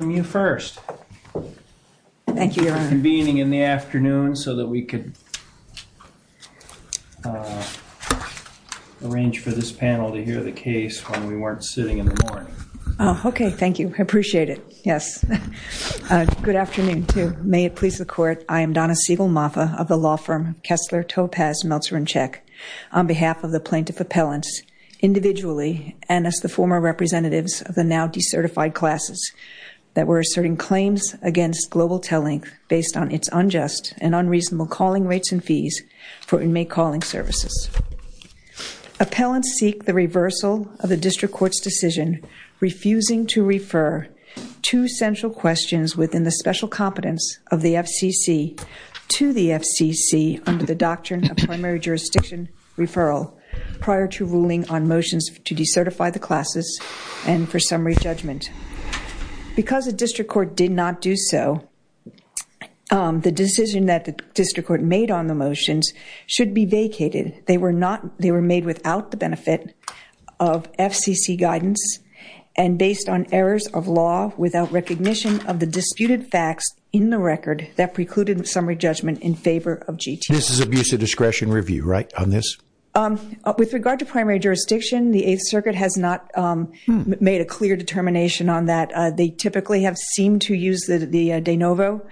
Thank you for convening in the afternoon so that we could arrange for this panel to hear the case when we weren't sitting in the morning. Okay, thank you. I appreciate it. Yes. Good afternoon to you. May it please the court, I am Donna Siegel-Maffa of the law firm Kessler, Topaz, Meltzer & Chek. On behalf of the plaintiff appellants, individually, and as the former representatives of the now decertified classes, that we're asserting claims against Global TelLink based on its unjust and unreasonable calling rates and fees for inmate calling services. Appellants seek the reversal of the district court's decision refusing to refer two central questions within the special competence of the FCC to the FCC under the doctrine of primary jurisdiction referral prior to ruling on motions to decertify the classes and for summary judgment. Because the district court did not do so, the decision that the district court made on the motions should be vacated. They were made without the benefit of FCC guidance and based on errors of law without recognition of the disputed facts in the record that precluded summary judgment in favor of GTO. This is abuse of discretion review, right, on this? With regard to primary jurisdiction, the 8th Circuit has not made a clear determination on that. They typically have seemed to use the de novo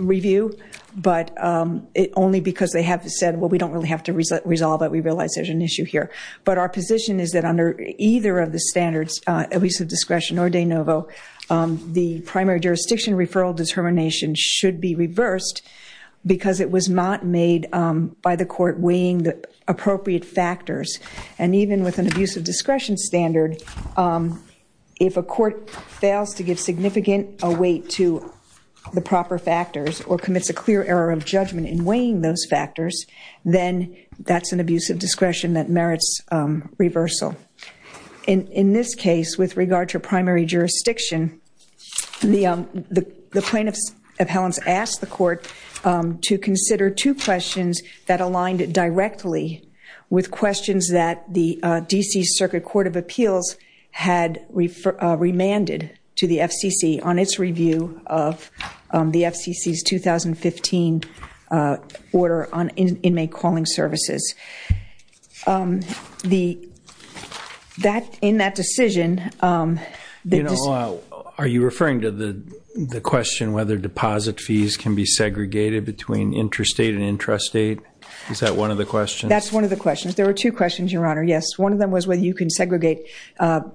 review, but only because they have said, well, we don't really have to resolve it. We realize there's an issue here. But our position is that under either of the standards, abuse of discretion or de novo, the primary jurisdiction referral determination should be reversed because it was not made by the court weighing the appropriate factors. And even with an abuse of discretion standard, if a court fails to give significant weight to the proper factors or commits a clear error of judgment in weighing those factors, then that's an abuse of discretion that merits reversal. In this case, with regard to primary jurisdiction, the plaintiffs' appellants asked the court to consider two questions that aligned directly with questions that the D.C. Circuit Court of Appeals had remanded to the FCC on its review of the FCC's 2015 order on inmate calling services. In that decision... Are you referring to the question whether deposit fees can be segregated between interstate and That's one of the questions. There were two questions, Your Honor, yes. One of them was whether you can segregate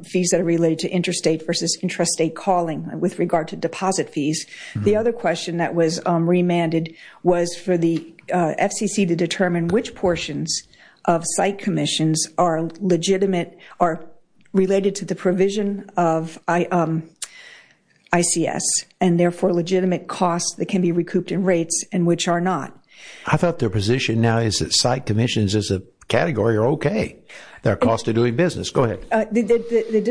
fees that are related to interstate versus intrastate calling with regard to deposit fees. The other question that was remanded was for the FCC to determine which portions of site commissions are legitimate, are related to the provision of ICS, and therefore legitimate costs that can be recouped in rates and which are not. I thought their position now is that site commissions as a category are okay. They're a cost of doing business. Go ahead. The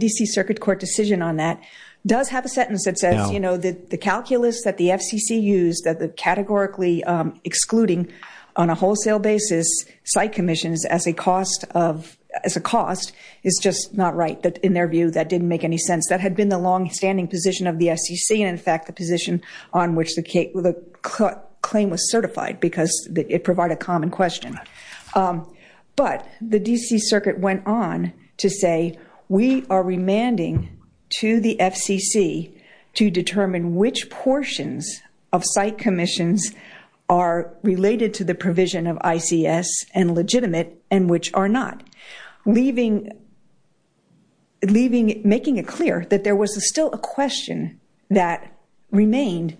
D.C. Circuit Court decision on that does have a sentence that says the calculus that the FCC used, that the categorically excluding on a wholesale basis site commissions as a cost is just not right. In their view, that didn't make any sense. That had been the longstanding position of the FCC and in fact the position on which the claim was certified because it provided a common question. But the D.C. Circuit went on to say we are remanding to the FCC to determine which portions of site commissions are related to the provision of ICS and legitimate and which are not. Leaving, making it clear that there was still a question that remained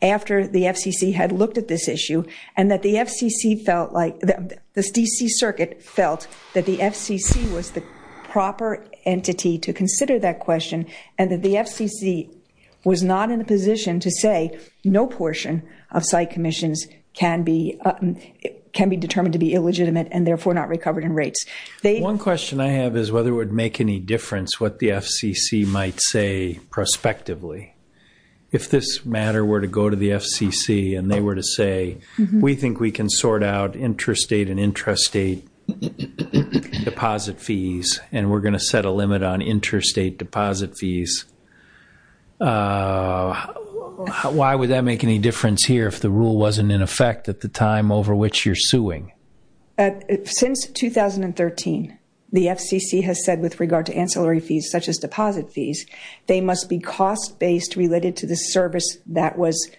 after the FCC had looked at this issue and that the FCC felt like, the D.C. Circuit felt that the FCC was the proper entity to consider that question and that the FCC was not in a position to say no portion of site commissions can be determined to be illegitimate and therefore not recovered in rates. One question I have is whether it would make any difference what the FCC might say prospectively. If this matter were to go to the FCC and they were to say, we think we can sort out interstate and intrastate deposit fees and we're going to set a limit on interstate deposit fees, why would that make any difference here if the rule wasn't in effect at the time over which you're suing? Since 2013, the FCC has said with regard to ancillary fees such as deposit fees, they must be cost-based related to the service that was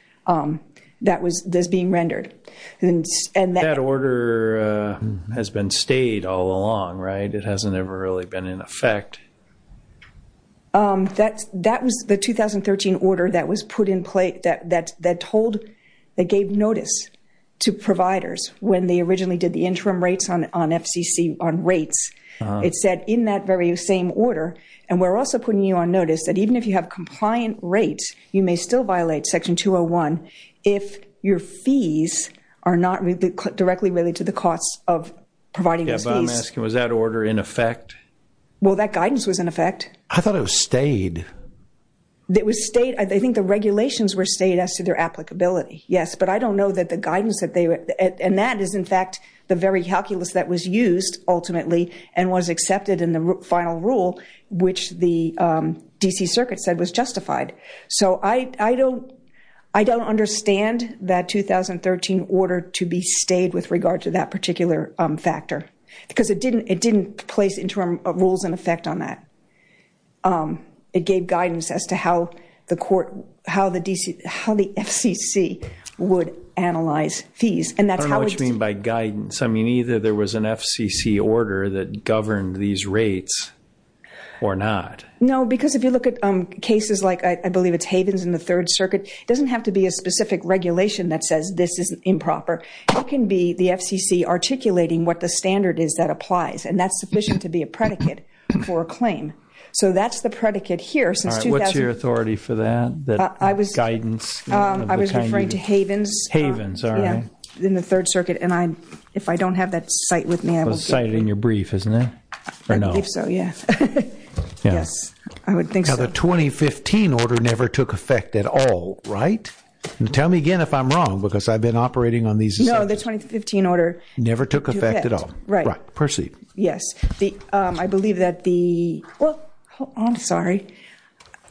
being rendered. That order has been stayed all along, right? It hasn't ever really been in effect. That was the 2013 order that gave notice to providers when they originally did the interim rates on FCC on rates. It said in that very same order, and we're also putting you on notice that even if you have compliant rates, you may still violate Section 201 if your fees are not directly related to the costs of providing those fees. I'm asking, was that order in effect? Well, that guidance was in effect. I thought it was stayed. It was stayed. I think the regulations were stayed as to their applicability, yes. But I don't know that the guidance that they were, and that is in fact the very calculus that was used ultimately and was accepted in the final rule which the D.C. Because it didn't place interim rules in effect on that. It gave guidance as to how the court, how the D.C., how the FCC would analyze fees. I don't know what you mean by guidance. I mean either there was an FCC order that governed these rates or not. No, because if you look at cases like I believe it's Havens in the Third Circuit, it doesn't have to be a specific regulation that says this is improper. It can be the FCC articulating what the standard is that applies. And that's sufficient to be a predicate for a claim. So that's the predicate here. What's your authority for that guidance? I was referring to Havens in the Third Circuit. And if I don't have that cite with me, I will- The cite is in your brief, isn't it? I believe so, yes. The 2015 order never took effect at all, right? Tell me again if I'm wrong because I've been operating on these- No, the 2015 order- Never took effect at all. Right. I'm sorry.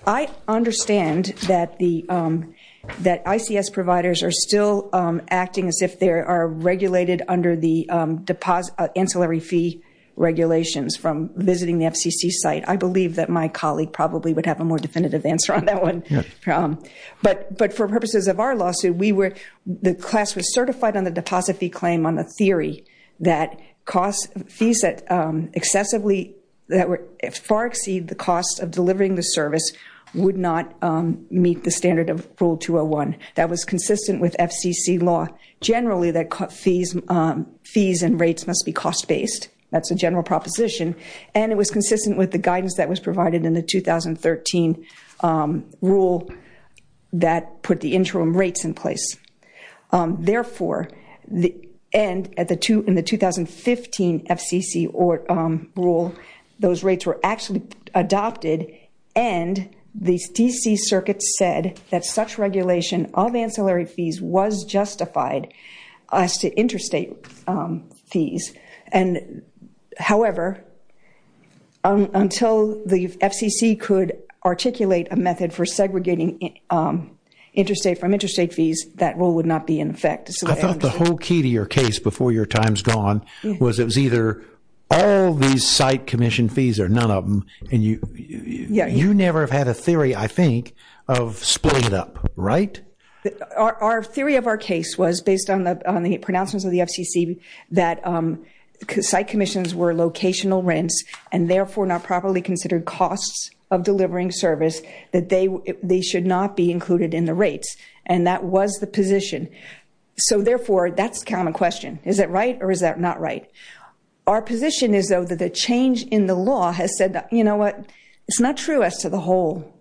I understand that ICS providers are still acting as if they are regulated under the The class was certified on the deposit fee claim on the theory that costs- Fees that far exceed the cost of delivering the service would not meet the standard of Rule 201. That was consistent with FCC law. Generally, fees and rates must be cost-based. That's a general proposition. And it was consistent with the guidance that was provided in the 2013 rule that put the interim rates in place. Therefore, in the 2015 FCC rule, those rates were actually adopted and the D.C. Circuit said that such regulation of ancillary fees was justified as to interstate fees. However, until the FCC could articulate a method for segregating from interstate fees, that rule would not be in effect. I thought the whole key to your case before your time's gone was it was either all these site commission fees or none of them. You never have had a theory, I think, of splitting it up, right? Our theory of our case was, based on the pronouncements of the FCC, that site commissions were locational rents and therefore not properly considered costs of delivering service that they should not be included in the rates. And that was the position. So therefore, that's the common question. Is that right or is that not right? Our position is, though, that the change in the law has said, you know what, it's not true as to the whole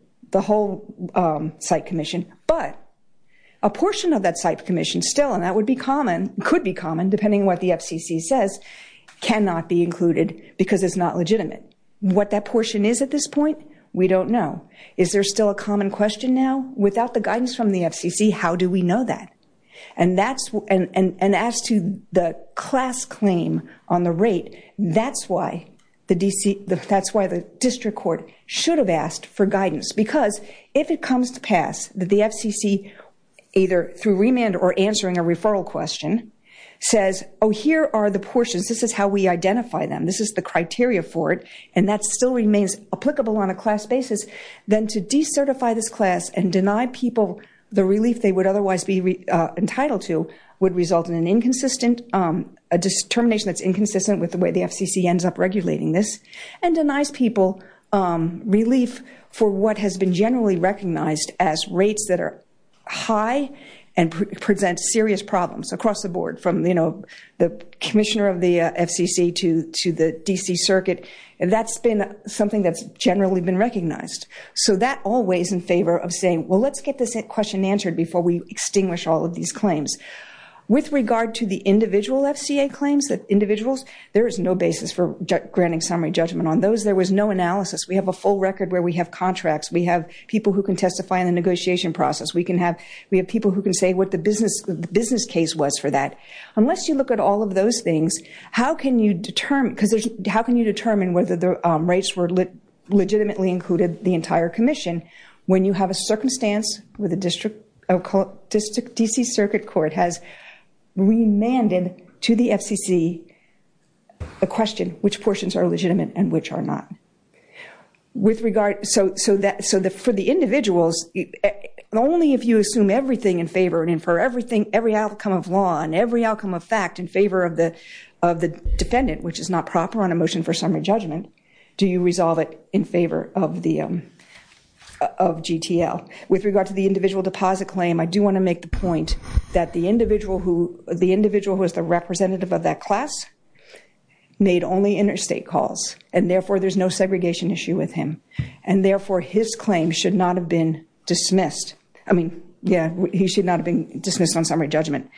site commission, but a portion of that site commission still, and that would be common, could be common, depending on what the FCC says, cannot be included because it's not legitimate. What that portion is at this point, we don't know. Is there still a common question now? Without the guidance from the FCC, how do we know that? And as to the class claim on the rate, that's why the district court should have asked for guidance. Because if it comes to pass that the FCC, either through remand or answering a referral question, says, oh, here are the portions, this is how we identify them, this is the criteria for it, and that still remains applicable on a class basis, then to decertify this class and deny people the relief they would otherwise be entitled to would result in an inconsistent, a determination that's inconsistent with the way the FCC ends up regulating this, and denies people relief for what has been generally recognized as rates that are high and present serious problems across the board, from the commissioner of the FCC to the D.C. Circuit, that's been something that's generally been recognized. So that always in favor of saying, well, let's get this question answered before we extinguish all of these claims. With regard to the individual FCA claims, individuals, there is no basis for granting summary judgment on those. There was no analysis. We have a full record where we have contracts. We have people who can testify in the negotiation process. We can have people who can say what the business case was for that. Unless you look at all of those things, how can you determine whether the rates were legitimately included the entire commission when you have a circumstance where the D.C. Circuit Court has remanded to the FCC a question, which portions are legitimate and which are not. So for the individuals, only if you assume everything in favor and infer everything, every outcome of law and every outcome of fact in favor of the defendant, which is not proper on a motion for summary judgment, do you resolve it in favor of GTL. With regard to the individual deposit claim, I do want to make the point that the individual who is the representative of that class made only interstate calls. And therefore, there is no segregation issue with him. And therefore, his claim should not have been dismissed. I mean, yeah, he should not have been dismissed on summary judgment.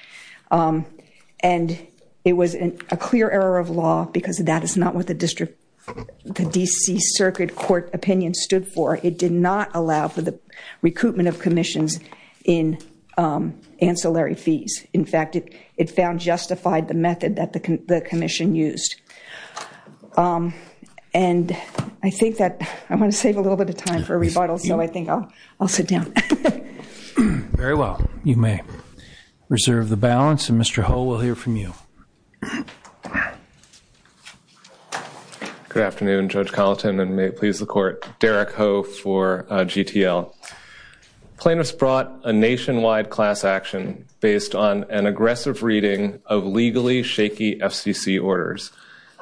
And it was a clear error of law because that is not what the D.C. Circuit Court opinion stood for. It did not allow for the recoupment of commissions in ancillary fees. In fact, it found justified the method that the commission used. And I think that I want to save a little bit of time for a rebuttal. So I think I'll sit down. Very well. You may reserve the balance. And Mr. Hull, we'll hear from you. Good afternoon, Judge Colleton. And may it please the Court. Derek Hull for GTL. Plaintiffs brought a nationwide class action based on an aggressive reading of legally shaky FCC orders.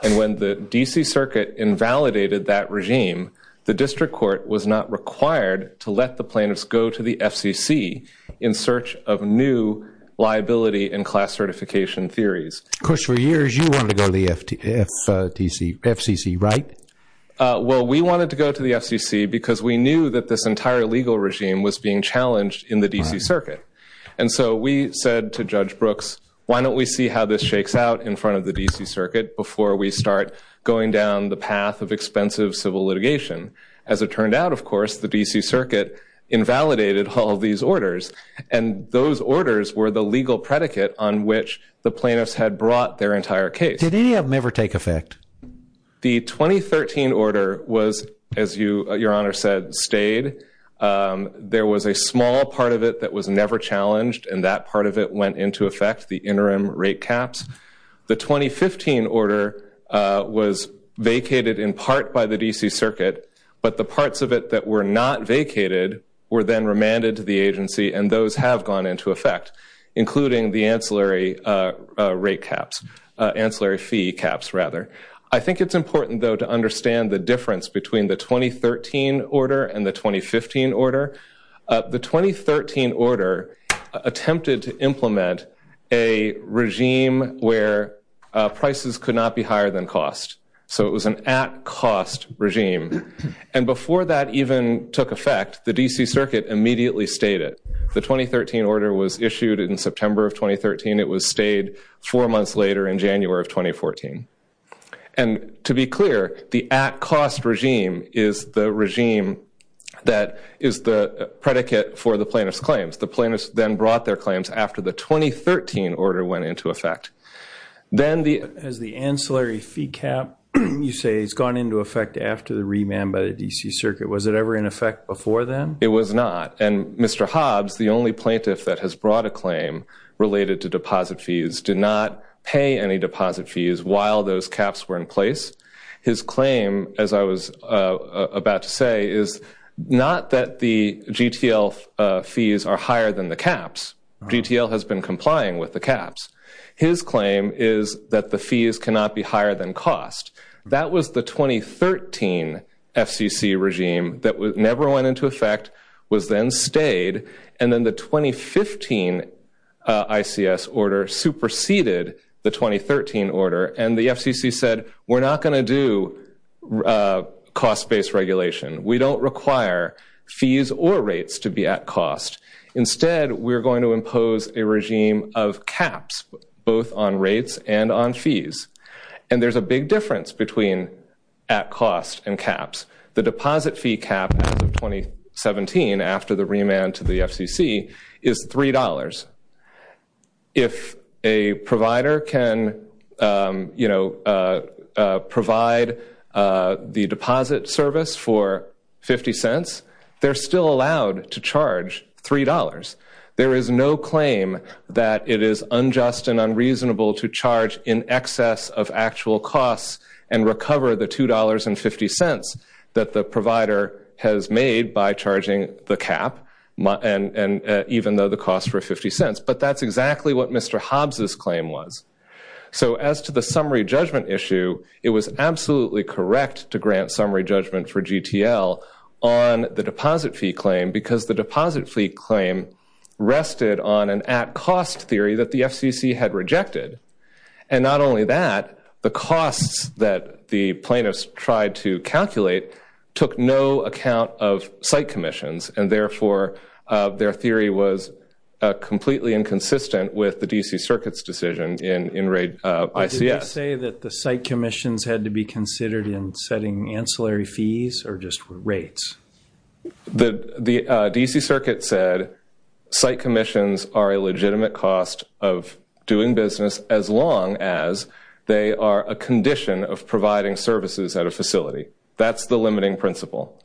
And when the D.C. Circuit invalidated that regime, the district court was not required to let the plaintiffs go to the FCC in search of new liability and class certification theories. Of course, for years you wanted to go to the FCC, right? Well, we wanted to go to the FCC because we knew that this entire legal regime was being challenged in the D.C. Circuit. And so we said to Judge Brooks, why don't we see how this shakes out in front of the D.C. Circuit before we start going down the path of expensive civil litigation? As it turned out, of course, the D.C. Circuit invalidated all these orders and brought their entire case. Did any of them ever take effect? The 2013 order was, as Your Honor said, stayed. There was a small part of it that was never challenged, and that part of it went into effect, the interim rate caps. The 2015 order was vacated in part by the D.C. Circuit, but the parts of it that were not vacated were then gone into effect, including the ancillary rate caps, ancillary fee caps, rather. I think it's important, though, to understand the difference between the 2013 order and the 2015 order. The 2013 order attempted to implement a regime where prices could not be higher than cost. So it was an at-cost regime. And before that even took effect, the D.C. Circuit immediately stayed it. The 2013 order was issued in September of 2013. It was stayed four months later in January of 2014. And to be clear, the at-cost regime is the regime that is the predicate for the plaintiff's claims. The plaintiffs then brought their claims after the 2013 order went into effect. As the ancillary fee cap, you say, has gone into effect after the remand by the D.C. Circuit. Was it ever in effect before then? It was not. And Mr. Hobbs, the only plaintiff that has brought a claim related to deposit fees, did not pay any deposit fees while those caps were in place. His claim, as I was about to say, is not that the GTL claim is that the fees cannot be higher than cost. That was the 2013 FCC regime that never went into effect, was then stayed, and then the 2015 ICS order superseded the 2013 order. And the FCC said, we're not going to do cost-based regulation. We don't require fees or rates to be at cost. Instead, we're going to impose a regime of caps, both on rates and on fees. And there's a big difference between at-cost and caps. The deposit fee cap as of 2017, after the remand to the FCC, is $3. If a provider can provide the deposit service for $0.50, they're still allowed to charge $3. There is no claim that it is unjust and unreasonable to charge in excess of actual costs and recover the $2.50 that the provider has made by charging the cap, even though the costs were $0.50. But that's exactly what Mr. Hobbs' claim was. So as to the summary judgment issue, it was absolutely correct to grant summary judgment for GTL on the deposit fee claim, because the deposit fee claim rested on an at-cost theory that the FCC had rejected. And not only that, the costs that the plaintiffs tried to calculate took no account of site commissions, and therefore their theory was completely inconsistent with the D.C. Circuit's decision in ICS. Did you say that the site commissions had to be considered in setting ancillary fees or just rates? The D.C. Circuit said site commissions are a legitimate cost of doing business as long as they are a condition of providing services at a facility. That's the limiting principle.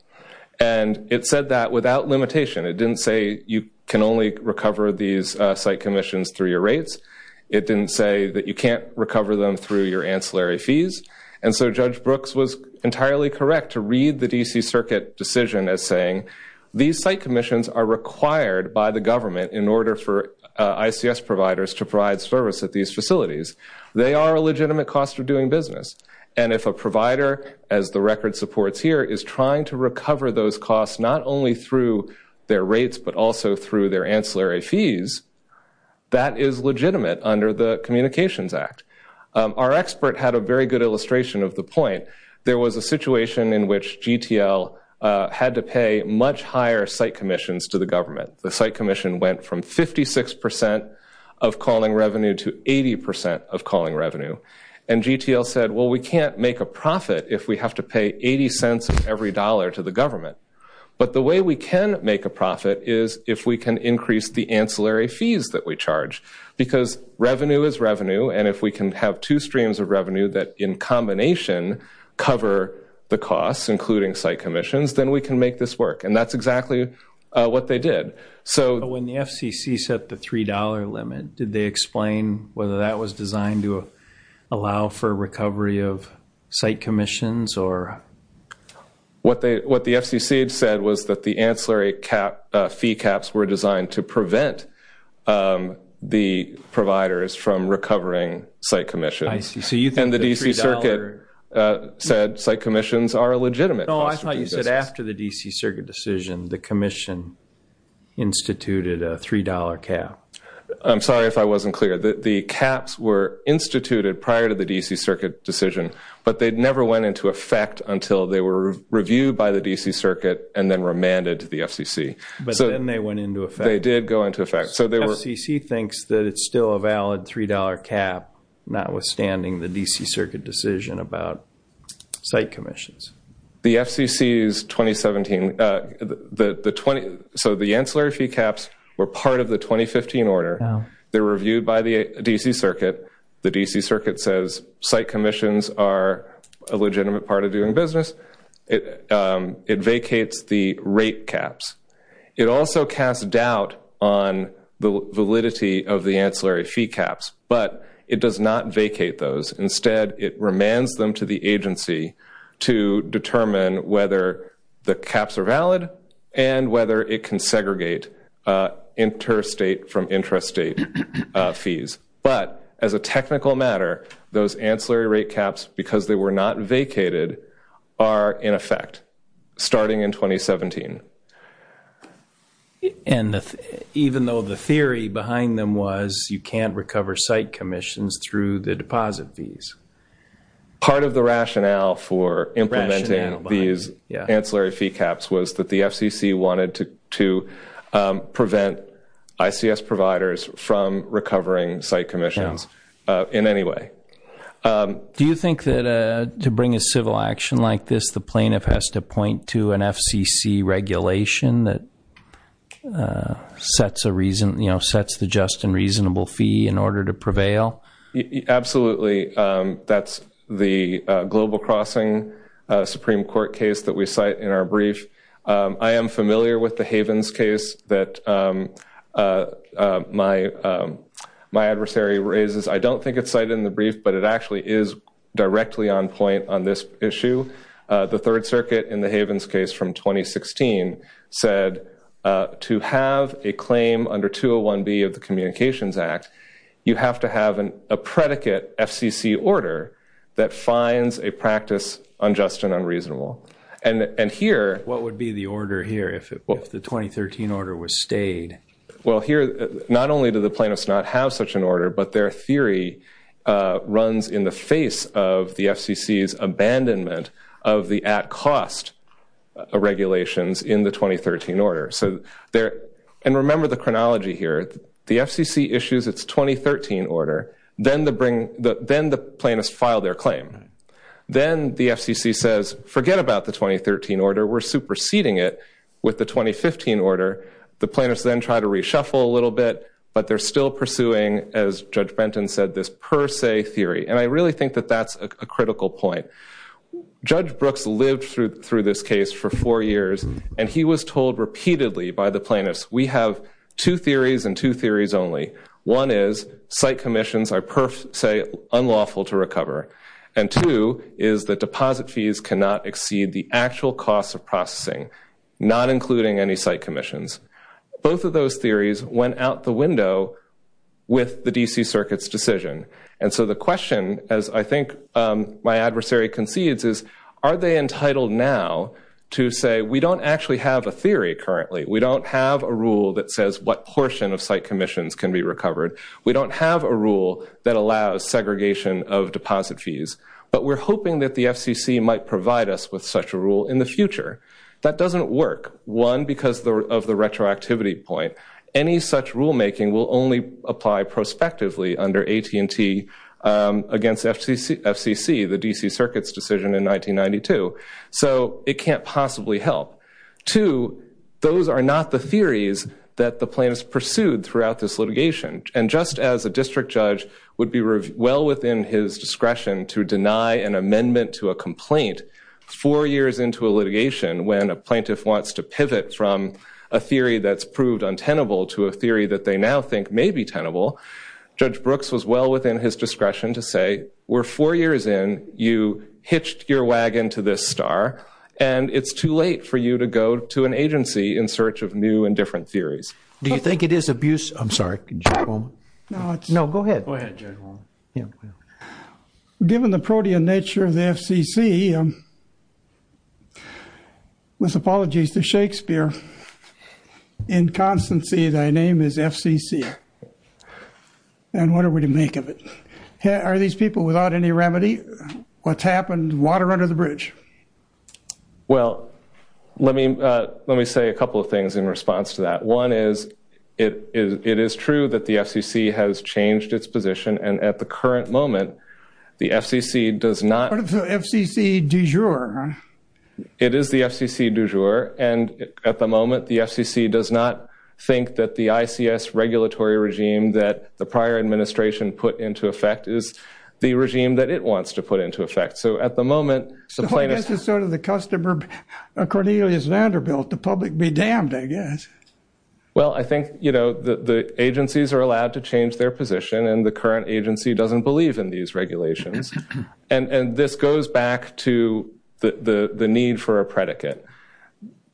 And it said that without limitation. It didn't say you can only recover these site commissions through your rates. It didn't say that you can't recover them through your ancillary fees. And so Judge Brooks was entirely correct to read the D.C. Circuit decision as saying these site commissions are required by the government in order for ICS providers to provide service at these facilities. They are a legitimate cost of doing business. And if a provider, as the record supports here, is trying to recover those costs not only through their rates but also through their ancillary fees, that is legitimate under the Communications Act. Our expert had a very good illustration of the point. There was a situation in which GTL had to pay much higher site commissions to the government. The site commission went from and GTL said, well, we can't make a profit if we have to pay 80 cents of every dollar to the government. But the way we can make a profit is if we can increase the ancillary fees that we charge. Because revenue is revenue. And if we can have two streams of revenue that in combination cover the costs, including site commissions, then we can make this work. And that's exactly what they did. When the FCC set the $3 limit, did they explain whether that was designed to allow for recovery of site commissions? What the FCC said was that the ancillary fee caps were designed to prevent the providers from recovering site commissions. And the DC Circuit said site commissions are a legitimate No, I thought you said after the DC Circuit decision, the commission instituted a $3 cap. I'm sorry if I wasn't clear. The caps were instituted prior to the DC Circuit decision, but they never went into effect until they were reviewed by the DC Circuit and then remanded to the FCC. But then they went into effect. They did go into effect. So the FCC thinks that it's still a valid $3 cap, notwithstanding the DC Circuit decision about site commissions. The FCC's 2017, so the ancillary fee caps were part of the 2015 order. They were reviewed by the DC Circuit. The DC Circuit says site commissions are a legitimate part of doing business. It vacates the rate caps. It also casts doubt on the validity of the ancillary fee caps, but it does not vacate those. Instead, it remands them to the agency to determine whether the caps are valid and whether it can segregate interstate from intrastate fees. But as a technical matter, those ancillary rate caps, because they were not vacated, are in effect starting in 2017. Even though the theory behind them was you can't recover site commissions through the deposit fees? Part of the rationale for implementing these ancillary fee caps was that the FCC wanted to prevent ICS providers from recovering site commissions in any way. Do you think that to bring a civil action like this, the plaintiff has to point to an FCC regulation that sets the just and reasonable fee in order to prevail? Absolutely. That's the Global Crossing Supreme Court case that we cite in our brief. I am familiar with the Havens case that my adversary raises. I don't think it's cited in the brief, but it actually is directly on point on this issue. The Third Circuit in the Havens case from 2016 said to have a claim under 201B of the Communications Act, you have to have a predicate FCC order that finds a practice unjust and unreasonable. What would be the order here if the 2013 order was stayed? Not only do the plaintiffs not have such an order, but their theory runs in the face of the FCC's abandonment of the at-cost regulations in the 2013 order. Remember the chronology here. The FCC issues its 2013 order, then the plaintiffs file their claim. Then the FCC says, forget about the 2013 order, we're superseding it with the 2015 order. The plaintiffs then try to reshuffle a little bit, but they're still pursuing, as Judge Benton said, this per se theory. I really think that that's a critical point. Judge Brooks lived through this case for four years, and he was told repeatedly by the plaintiffs that site commissions are per se unlawful to recover, and two, is that deposit fees cannot exceed the actual cost of processing, not including any site commissions. Both of those theories went out the window with the D.C. Circuit's decision. So the question, as I think my adversary concedes, is are they entitled now to say, we don't actually have a theory currently, we don't have a rule that says what portion of site commissions can be recovered, we don't have a rule that allows segregation of deposit fees, but we're hoping that the FCC might provide us with such a rule in the future. That doesn't work, one, because of the retroactivity point. Any such rulemaking will only apply prospectively under AT&T against FCC, the D.C. Circuit's decision in this case, and there are not the theories that the plaintiffs pursued throughout this litigation. And just as a district judge would be well within his discretion to deny an amendment to a complaint four years into a litigation when a plaintiff wants to pivot from a theory that's proved untenable to a theory that they now think may be tenable, Judge Brooks was well within his discretion to say, we're four years in, you to an agency in search of new and different theories. Given the protean nature of the FCC, with apologies to Shakespeare, in constancy thy name is FCC. And what are we to make of it? Are these people without any remedy? What's happened? Water under the bridge. Well, let me say a couple of things in response to that. One is it is true that the FCC has changed its position, and at the current moment, the FCC does not... Part of the FCC du jour, huh? It is the FCC du jour, and at the moment, the FCC does not think that the ICS regulatory regime that the prior administration put into effect is the regime that it wants to put into effect. So at the moment... So this is sort of the customer Cornelius Vanderbilt, the public be damned, I guess. Well, I think, you know, the agencies are allowed to change their position, and the current agency doesn't believe in these regulations. And this goes back to the need for a predicate.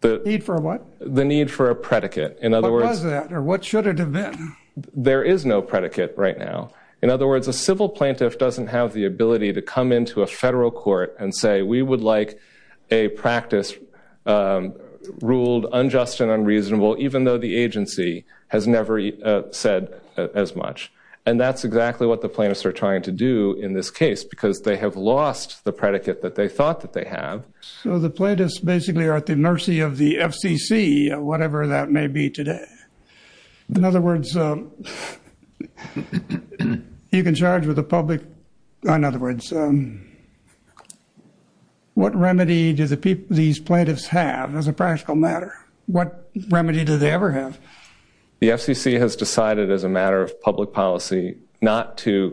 Need for what? The need for a predicate. There is no predicate right now. In other words, a civil plaintiff doesn't have the ability to come into a federal court and say, we would like a practice ruled unjust and unreasonable, even though the agency has never said as much. And that's exactly what the plaintiffs are trying to do in this case, because they have lost the predicate that they thought that they have. So the plaintiffs basically are at the mercy of the FCC, whatever that may be today. In other words, you can charge with the public... In other words, what remedy do these plaintiffs have as a practical matter? What remedy do they ever have? The FCC has decided as a matter of public policy not to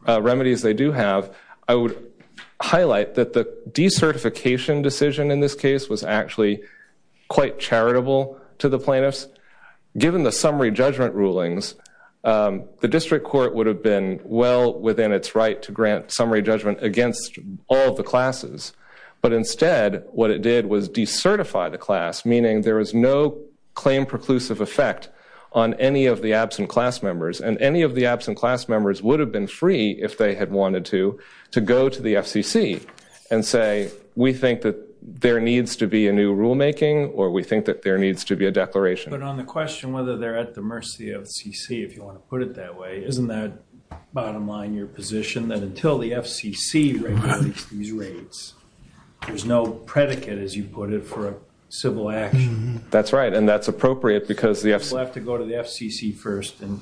what remedies they do have. I would highlight that the decertification decision in this case was actually quite charitable to the plaintiffs. Given the summary judgment rulings, the district court would have been well within its right to grant summary judgment against all of the classes. But instead, what it did was decertify the class, meaning there is no claim preclusive effect on any of the absent class members. And any of the absent class members would have been free, if they had wanted to, to go to the FCC and say, we think that there needs to be a new rulemaking, or we think that there needs to be a declaration. But on the question whether they're at the mercy of the FCC, if you want to put it that way, isn't that, bottom line, your position, that until the FCC regulates these rates, there's no predicate, as you put it, for a civil action? That's right, and that's appropriate because the FCC... We'll have to go to the FCC first and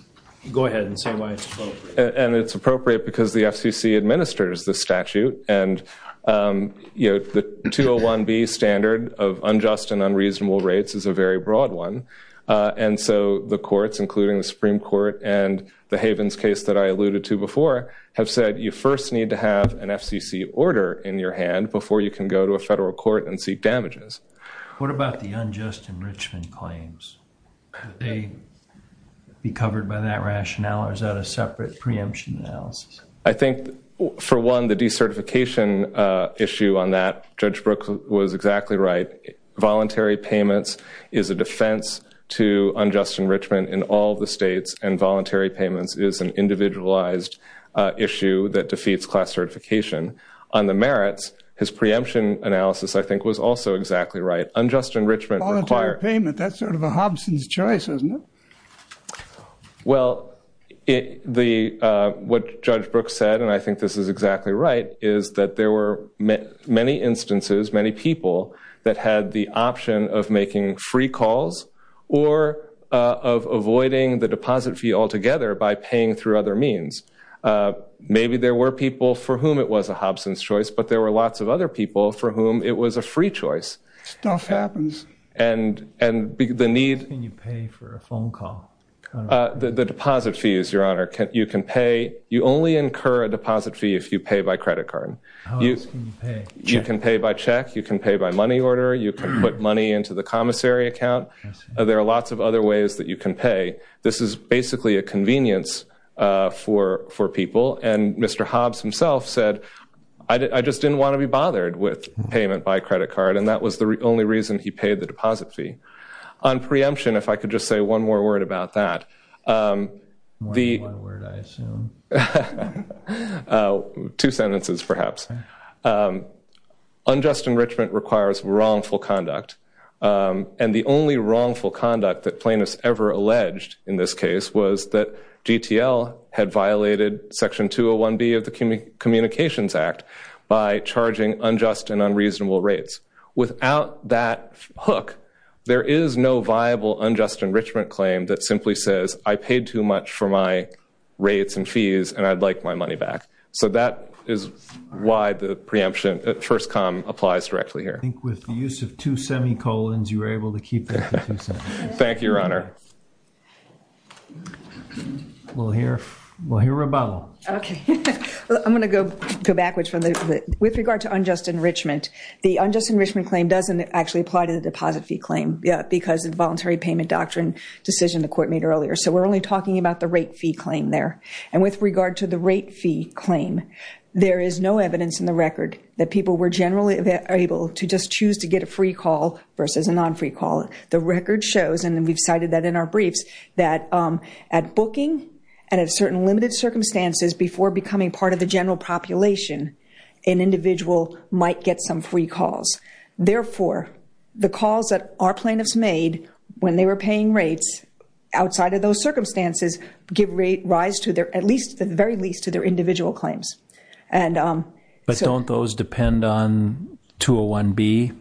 go ahead and say why it's appropriate. And it's appropriate because the FCC administers the statute, and the 201B standard of unjust and unreasonable rates is a very broad one. And so the courts, including the Supreme Court and the Havens case that I alluded to before, have said you first need to have an FCC order in your hand before you can go to a federal court and seek damages. What about the unjust enrichment claims? Could they be covered by that rationale, or is that a separate preemption analysis? I think, for one, the decertification issue on that, Judge Brooks was exactly right. Voluntary payments is a defense to unjust enrichment in all the states, and voluntary payments is an individualized issue that defeats class certification. On the merits, his preemption analysis, I think, was also exactly right. Voluntary payment, that's sort of a Hobson's choice, isn't it? Well, what Judge Brooks said, and I think this is exactly right, is that there were many instances, many people that had the option of making free calls or of avoiding the deposit fee altogether by paying through other means. Maybe there were people for whom it was a Hobson's choice, but there were lots of other people for whom it was a free choice. Stuff happens. How much can you pay for a phone call? The deposit fees, Your Honor. You only incur a deposit fee if you pay by credit card. You can pay by check. You can pay by money order. You can put money into the commissary account. There are lots of other ways that you can pay. This is basically a convenience for people, and Mr. Hobbs himself said, I just didn't want to be bothered with payment by credit card, and that was the only reason he paid the deposit fee. On preemption, if I could just say one more word about that. One word, I assume. Two sentences, perhaps. Unjust enrichment requires wrongful conduct, and the only wrongful conduct that plaintiffs ever alleged in this case was that GTL had violated Section 201B of the Communications Act by charging unjust and unreasonable rates. Without that hook, there is no viable unjust enrichment claim that simply says, I paid too much for my rates and fees, and I'd like my money back. So that is why the preemption at first come applies directly here. I think with the use of two semicolons, you were able to keep that to two semicolons. Thank you, Your Honor. We'll hear rebuttal. I'm going to go backwards. With regard to unjust enrichment, the unjust enrichment claim doesn't actually apply to the deposit fee claim because of the voluntary payment doctrine decision the Court made earlier. So we're only talking about the rate fee claim there. And with regard to the rate fee claim, there is no evidence in the record that people were generally able to just choose to get a free call versus a non-free call. The record shows, and we've cited that in our briefs, that at booking and at certain limited circumstances before becoming part of the general population, an individual might get some free calls. Therefore, the calls that our plaintiffs made when they were paying rates outside of those circumstances give rise to their, at least, to a 1B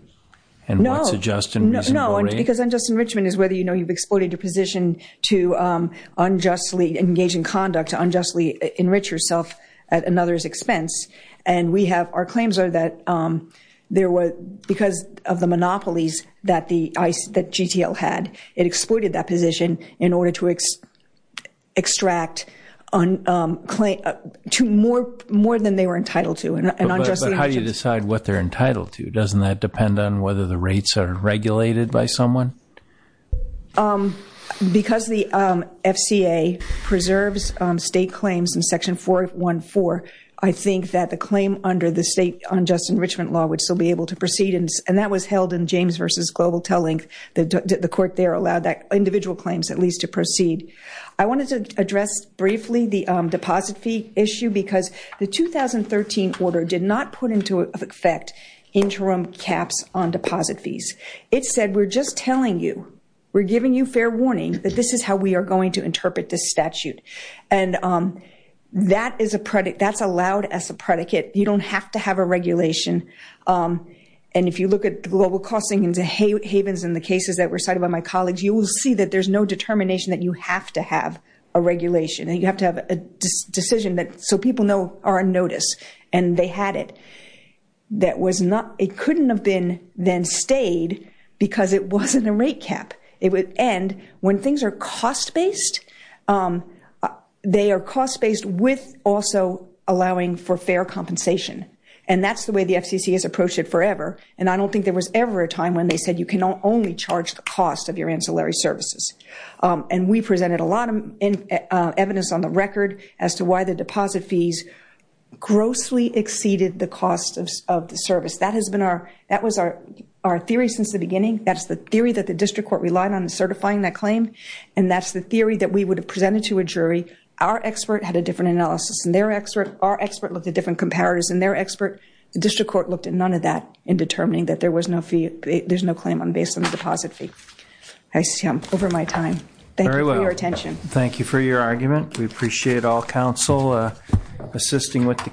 and what's a just and reasonable rate. No, because unjust enrichment is whether you know you've exploited your position to unjustly engage in conduct, to unjustly enrich yourself at another's expense. And we have, our claims are that because of the monopolies that GTL had, it exploited that position in order to extract more than they were entitled to. But how do you decide what they're entitled to? Doesn't that depend on whether the rates are regulated by someone? Because the FCA preserves state claims in Section 414, I think that the claim under the state unjust enrichment law would still be able to proceed. And that was held in James v. Global Telling. The court there allowed that individual claims at least to proceed. I wanted to address briefly the deposit fee issue because the 2013 order did not put into effect interim caps on deposit fees. It said we're just telling you, we're giving you fair warning that this is how we are going to interpret this statute. And that is a, that's allowed as a predicate. You don't have to have a regulation. And if you look at the global costing and the havens in the cases that were cited by my colleagues, you will see that there's no determination that you have to have a regulation. And you have to have a decision that, so people know are on notice. And they had it. That was not, it couldn't have been then stayed because it wasn't a rate cap. And when things are cost-based, they are cost-based with also allowing for fair compensation. And that's the way the FCC has approached it forever. And I don't think there was ever a time when they said you can only charge the cost of your ancillary services. And we presented a lot of evidence on the record as to why the deposit fees grossly exceeded the cost of the service. That has been our, that was our theory since the beginning. That's the theory that the district court relied on certifying that claim. And that's the theory that we would have presented to a jury. Our expert had a different analysis than their expert. Our expert looked at different comparators than their expert. The district court looked at none of that in determining that there was no fee, there's no claim based on the deposit fee. I see I'm over my time. Thank you for your attention. Thank you for your argument. We appreciate all counsel assisting with the